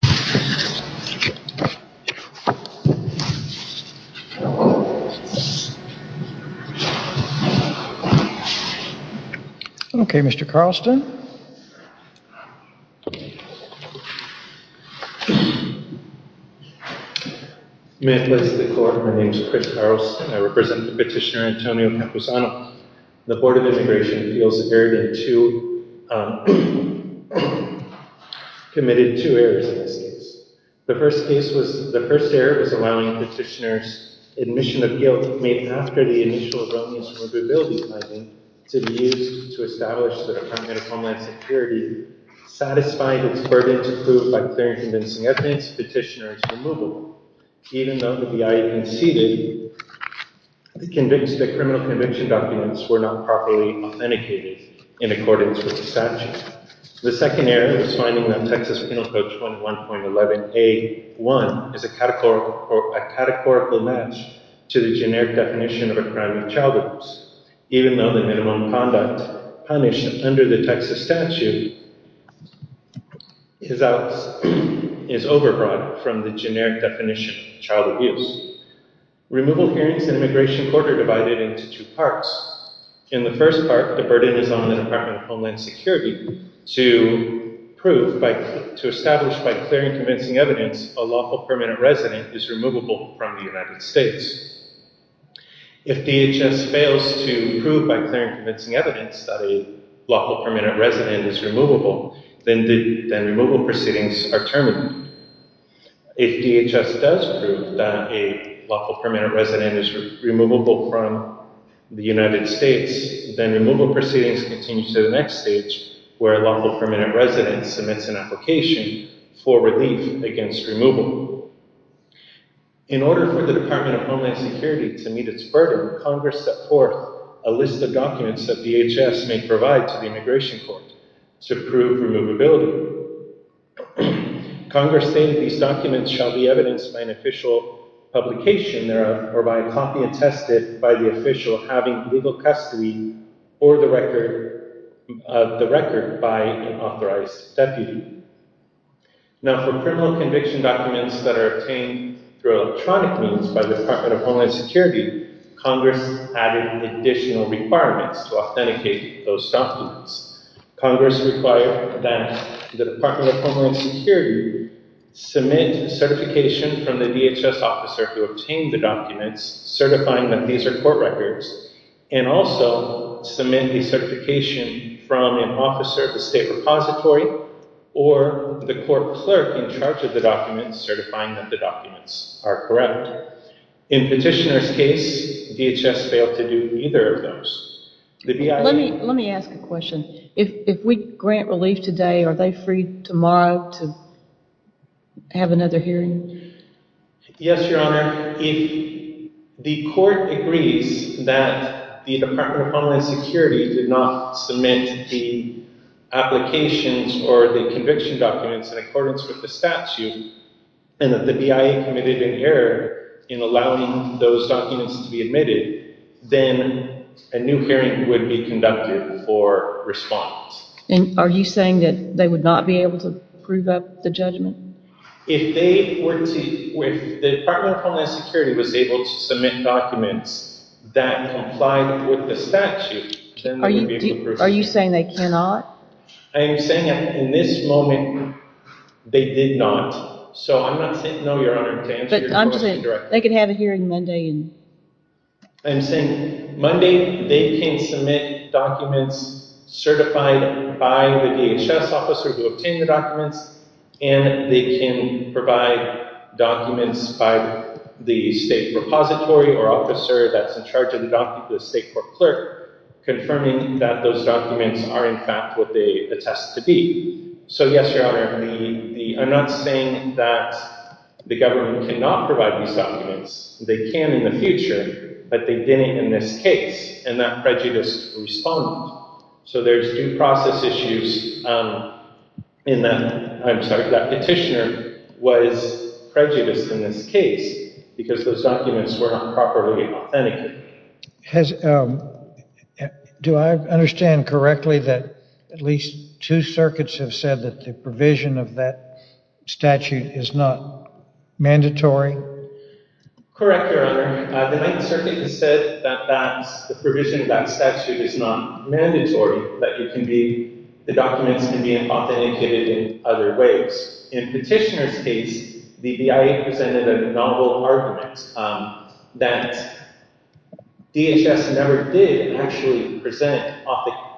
and Antonio Campuzano. May it bless the court, my name is Chris Carlston and I represent the petitioner Antonio Campuzano. The Board of Immigration Appeals committed two errors in this case. The first error was allowing the petitioner's admission of guilt made after the initial Romney's removability finding to be used to establish the Department of Homeland Security satisfying its burden to prove by clear and convincing evidence the petitioner's removal. Even though the BIA conceded, the criminal conviction documents were not properly authenticated in accordance with the statute. The second error was finding that Texas Penal Code 21.11a.1 is a categorical match to the generic definition of a crime of child abuse. Even though the minimum conduct punished under the Texas statute is over-broad from the generic definition of child abuse. Removal hearings in immigration court are divided into two parts. In the first part, the burden is on the Department of Homeland Security to establish by clear and convincing evidence a lawful permanent resident is removable from the United States. If DHS fails to prove by clear and convincing evidence that a lawful permanent resident is removable, then removal proceedings are terminated. If DHS does prove that a lawful permanent resident is removable from the United States, then removal proceedings continue to the next stage where a lawful permanent resident submits an application for relief against removal. In order for the Department of Homeland Security to meet its burden, Congress set forth a list of documents that DHS may provide to the immigration court to prove removability. Congress stated these documents shall be evidenced by an official publication or by a copy attested by the official having legal custody or the record by an authorized deputy. Now for criminal conviction documents that are obtained through electronic means by the Department of Homeland Security, Congress added additional requirements to authenticate those documents. Congress required that the Department of Homeland Security submit certification from the DHS officer who obtained the documents certifying that these are court records and also submit the certification from an officer at the state repository or the court clerk in charge of the documents certifying that the documents are correct. In Petitioner's case, DHS failed to do either of those. Let me ask a question. If we grant relief today, are they free tomorrow to have another hearing? Yes, Your Honor. If the court agrees that the Department of Homeland Security did not submit the applications or the conviction documents in accordance with the statute and that the BIA committed an error in allowing those documents to be admitted, then a new hearing would be conducted for response. And are you saying that they would not be able to prove up the judgment? If the Department of Homeland Security was able to submit documents that complied with the statute, then they would be able to prove it. Are you saying they cannot? I am saying that in this moment, they did not. So I'm not saying, no, Your Honor, to answer your question directly. They could have a hearing Monday. I'm saying Monday they can submit documents certified by the DHS officer who obtained the documents, and they can provide documents by the state repository or officer that's in charge of the documents, the state court clerk, confirming that those documents are in fact what they attest to be. So, yes, Your Honor, I'm not saying that the government cannot provide these documents. They can in the future, but they didn't in this case, and that prejudice responded. So there's due process issues in that petitioner was prejudiced in this case because those documents were not properly authentic. Do I understand correctly that at least two circuits have said that the provision of that statute is not mandatory? Correct, Your Honor. The Ninth Circuit has said that the provision of that statute is not mandatory, that the documents can be authenticated in other ways. In the petitioner's case, the BIA presented a novel argument that DHS never did actually present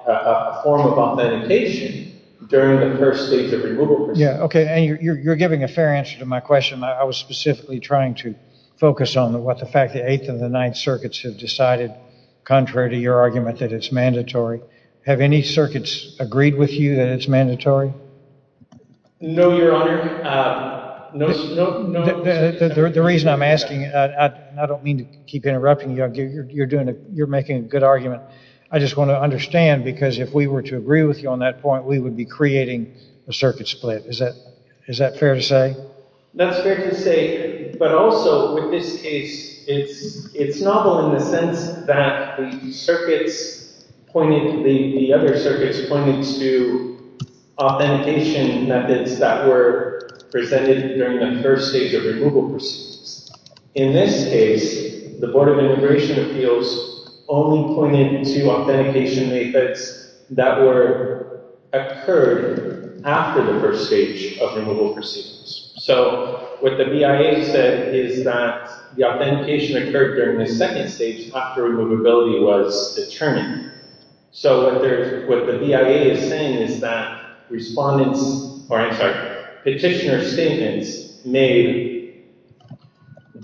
a form of authentication during the first stage of removal procedure. Yeah, okay, and you're giving a fair answer to my question. I was specifically trying to focus on the fact that the Eighth and the Ninth Circuits have decided, contrary to your argument, that it's mandatory. Have any circuits agreed with you that it's mandatory? No, Your Honor. No. The reason I'm asking, I don't mean to keep interrupting you. You're making a good argument. I just want to understand, because if we were to agree with you on that point, we would be creating a circuit split. Is that fair to say? That's fair to say, but also with this case, it's novel in the sense that the other circuits pointed to authentication methods that were presented during the first stage of removal procedures. In this case, the Board of Immigration Appeals only pointed to authentication methods that occurred after the first stage of removal procedures. So, what the BIA said is that the authentication occurred during the second stage after removability was determined. So, what the BIA is saying is that petitioner statements made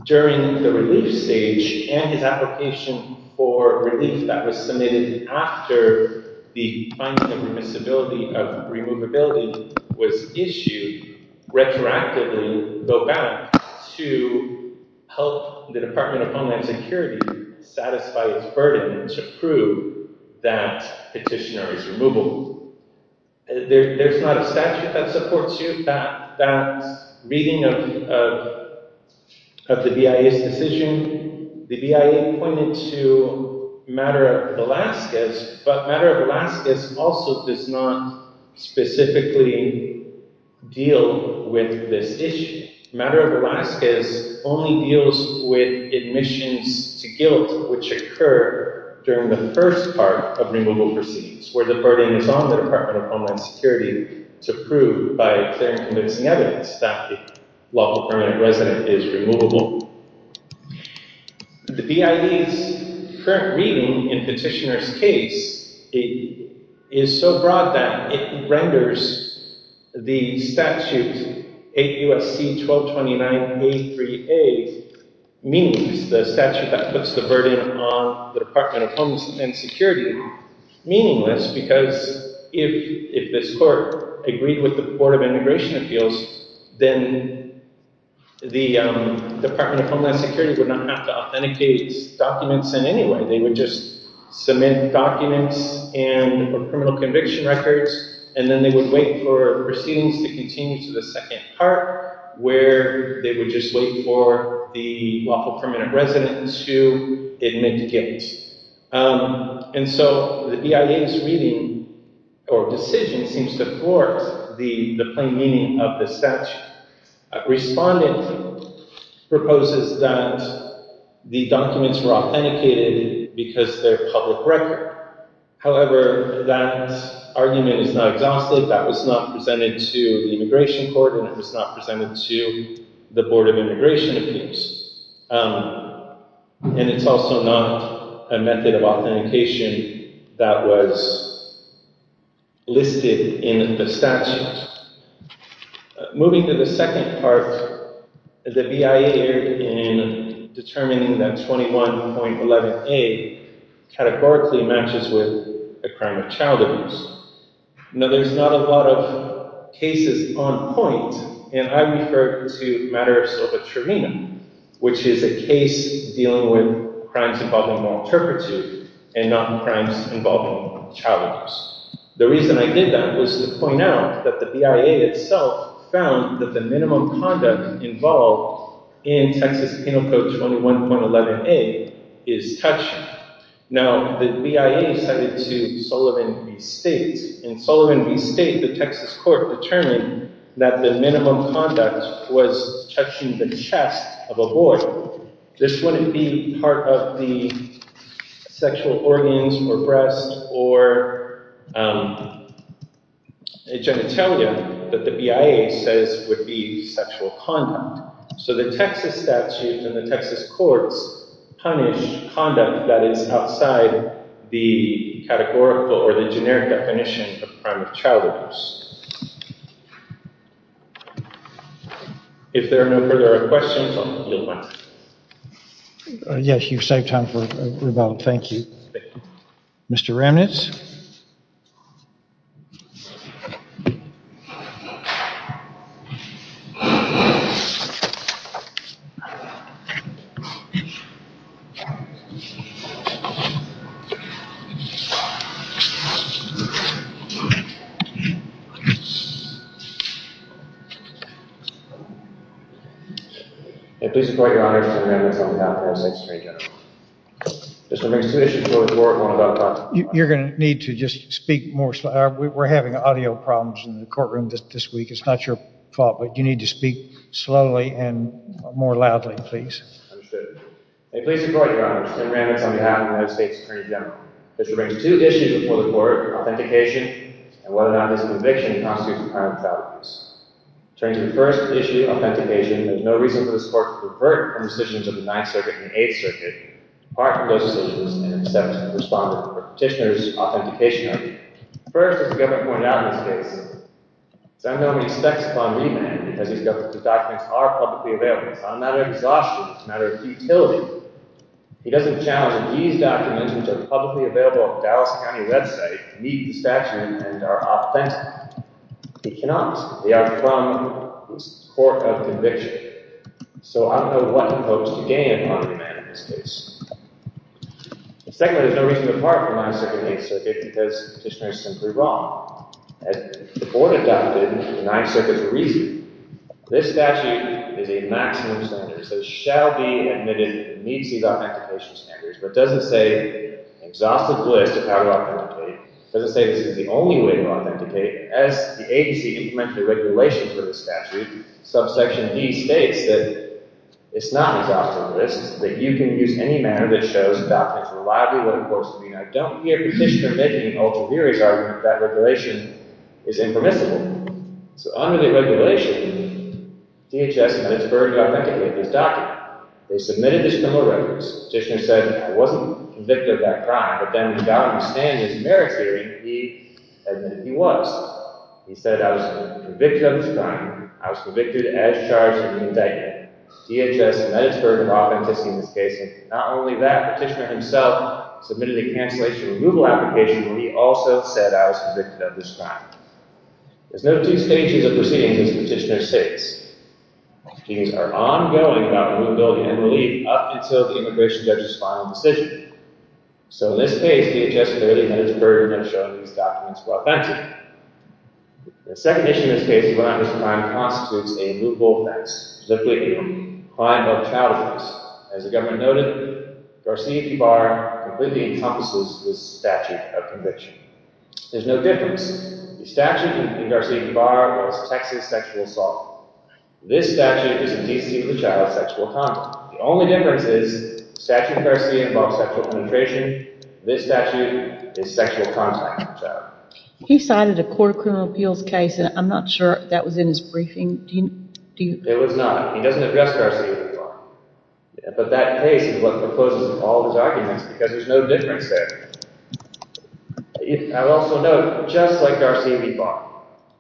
during the relief stage and his application for relief that was submitted after the finding of remissibility of removability was issued, should retroactively go back to help the Department of Homeland Security satisfy its burden to prove that petitioner is removable. There's not a statute that supports you. That reading of the BIA's decision, the BIA pointed to Matter of Alaska, but Matter of Alaska also does not specifically deal with this issue. Matter of Alaska only deals with admissions to guilt which occur during the first part of removal procedures, where the burden is on the Department of Homeland Security to prove by clear and convincing evidence that the lawful permanent resident is removable. The BIA's current reading in petitioner's case is so broad that it renders the statute 8 U.S.C. 1229.83a meaningless, the statute that puts the burden on the Department of Homeland Security meaningless, because if this court agreed with the Board of Immigration Appeals, then the Department of Homeland Security would not have to authenticate documents in any way. They would just submit documents and criminal conviction records, and then they would wait for proceedings to continue to the second part where they would just wait for the lawful permanent resident to admit guilt. And so the BIA's reading or decision seems to thwart the plain meaning of the statute. Respondent proposes that the documents were authenticated because they're public record. However, that argument is not exhausted. That was not presented to the Immigration Court, and it was not presented to the Board of Immigration Appeals. And it's also not a method of authentication that was listed in the statute. Moving to the second part, the BIA in determining that 21.11a categorically matches with a crime of child abuse. Now, there's not a lot of cases on point, and I refer to Matters of a Trivena, which is a case dealing with crimes involving malinterpreted and not crimes involving child abuse. The reason I did that was to point out that the BIA itself found that the minimum conduct involved in Texas Penal Code 21.11a is touching. Now, the BIA cited to Sullivan v. State. In Sullivan v. State, the Texas court determined that the minimum conduct was touching the chest of a boy. This wouldn't be part of the sexual organs or breast or genitalia that the BIA says would be sexual conduct. So the Texas statute and the Texas courts punish conduct that is outside the categorical or the generic definition of crime of child abuse. If there are no further questions, I'll yield back. Yes, you've saved time for rebuttal. Thank you. Mr. Remnitz? You're going to need to just speak more slowly. We're having audio problems in the courtroom this week. It's not your fault, but you need to speak slowly and more loudly, please. Understood. May it please the court, Your Honor, I'm Tim Remnitz on behalf of the United States Attorney General. This relates to two issues before the court, authentication and whether or not this conviction constitutes a crime of child abuse. Attorney, the first issue, authentication, there's no reason for this court to revert from decisions of the Ninth Circuit and the Eighth Circuit, apart from those decisions in acceptance of the Respondent or Petitioner's authentication argument. First, as the Governor pointed out in this case, as I know he expects upon me, as he's Governor, these documents are publicly available. It's not a matter of exhaustion. It's a matter of futility. He doesn't challenge that these documents, which are publicly available on the Dallas County website, meet the statute and are authentic. He cannot. They are from the Court of Conviction. So I don't know what he hopes to gain upon me, ma'am, in this case. Secondly, there's no reason to depart from the Ninth Circuit and the Eighth Circuit because the Petitioner is simply wrong. As the court adopted, the Ninth Circuit's reason. This statute is a maximum standard, so it shall be admitted that it meets these authentication standards, but it doesn't say an exhaustive list of how to authenticate. It doesn't say this is the only way to authenticate. As the agency implements the regulations for the statute, subsection D states that it's not an exhaustive list, that you can use any manner that shows the documents reliably live and close to me, and I don't hear Petitioner making an ultramarious argument that that regulation is impermissible. So under the regulation, DHS managed to authenticate his document. They submitted this criminal record. Petitioner said he wasn't convicted of that crime, but then without understanding his merit theory, he admitted he was. He said, I was convicted of this crime. I was convicted as charged in the indictment. DHS and Edisburg are authenticating this case, and not only that, Petitioner himself submitted a cancellation removal application, but he also said I was convicted of this crime. There's no two stages of proceedings, as Petitioner states. Proceedings are ongoing about removability and relief up until the immigration judge's final decision. So in this case, DHS and Edisburg have shown these documents were authentic. The second issue in this case is that this crime constitutes a loophole offense. Specifically, a crime of child abuse. As the government noted, Garcia Ybarra completely encompasses this statute of conviction. There's no difference. The statute in Garcia Ybarra was Texas sexual assault. This statute is indecency for the child's sexual contact. The only difference is the statute in Garcia involves sexual penetration. This statute is sexual contact for the child. He cited a court of criminal appeals case, and I'm not sure that was in his briefing. It was not. He doesn't address Garcia Ybarra. But that case is what proposes all of his arguments, because there's no difference there. I will also note, just like Garcia Ybarra,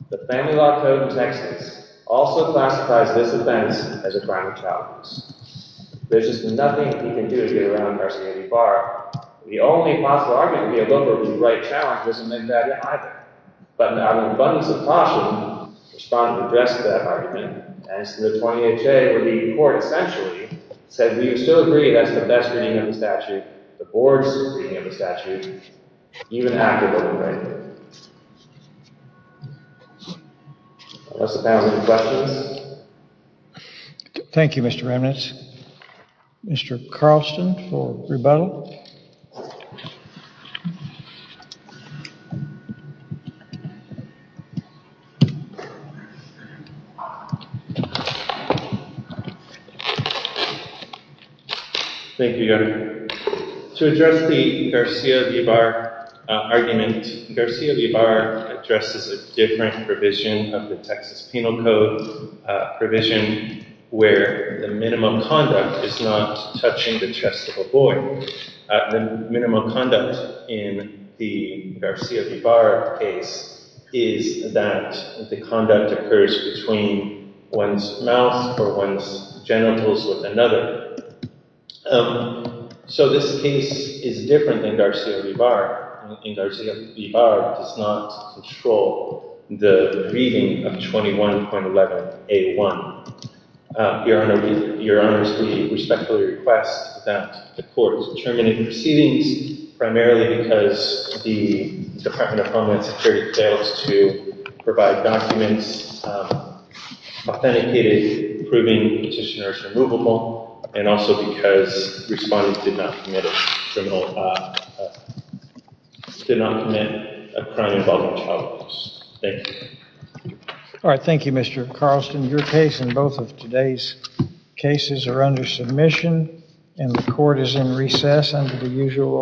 the family law code in Texas also classifies this offense as a crime of child abuse. There's just nothing he can do to get around Garcia Ybarra. The only possible argument to be able to go to the right trial isn't in that either. But an abundance of caution was found to address that argument. And so the 20HA, or the court essentially, said we would still agree that's the best reading of the statute. The board's reading of the statute, even after what we've read. Unless the panel has any questions. Thank you, Mr. Remnitz. Mr. Carlston for rebuttal. Thank you. To address the Garcia Ybarra argument, Garcia Ybarra addresses a different provision of the Texas Penal Code. A provision where the minimum conduct is not touching the chest of a boy. The minimum conduct in the Garcia Ybarra case is that the conduct occurs between one's mouth or one's genitals with another. So this case is different than Garcia Ybarra. Garcia Ybarra does not control the reading of 21.11A1. Your Honor, we respectfully request that the court determine the proceedings primarily because the Department of Homeland Security fails to provide documents authenticated proving the petitioner is removable. And also because respondents did not commit a crime involving child abuse. Thank you. All right. Thank you, Mr. Carlston. Your case and both of today's cases are under submission and the court is in recess under the usual order.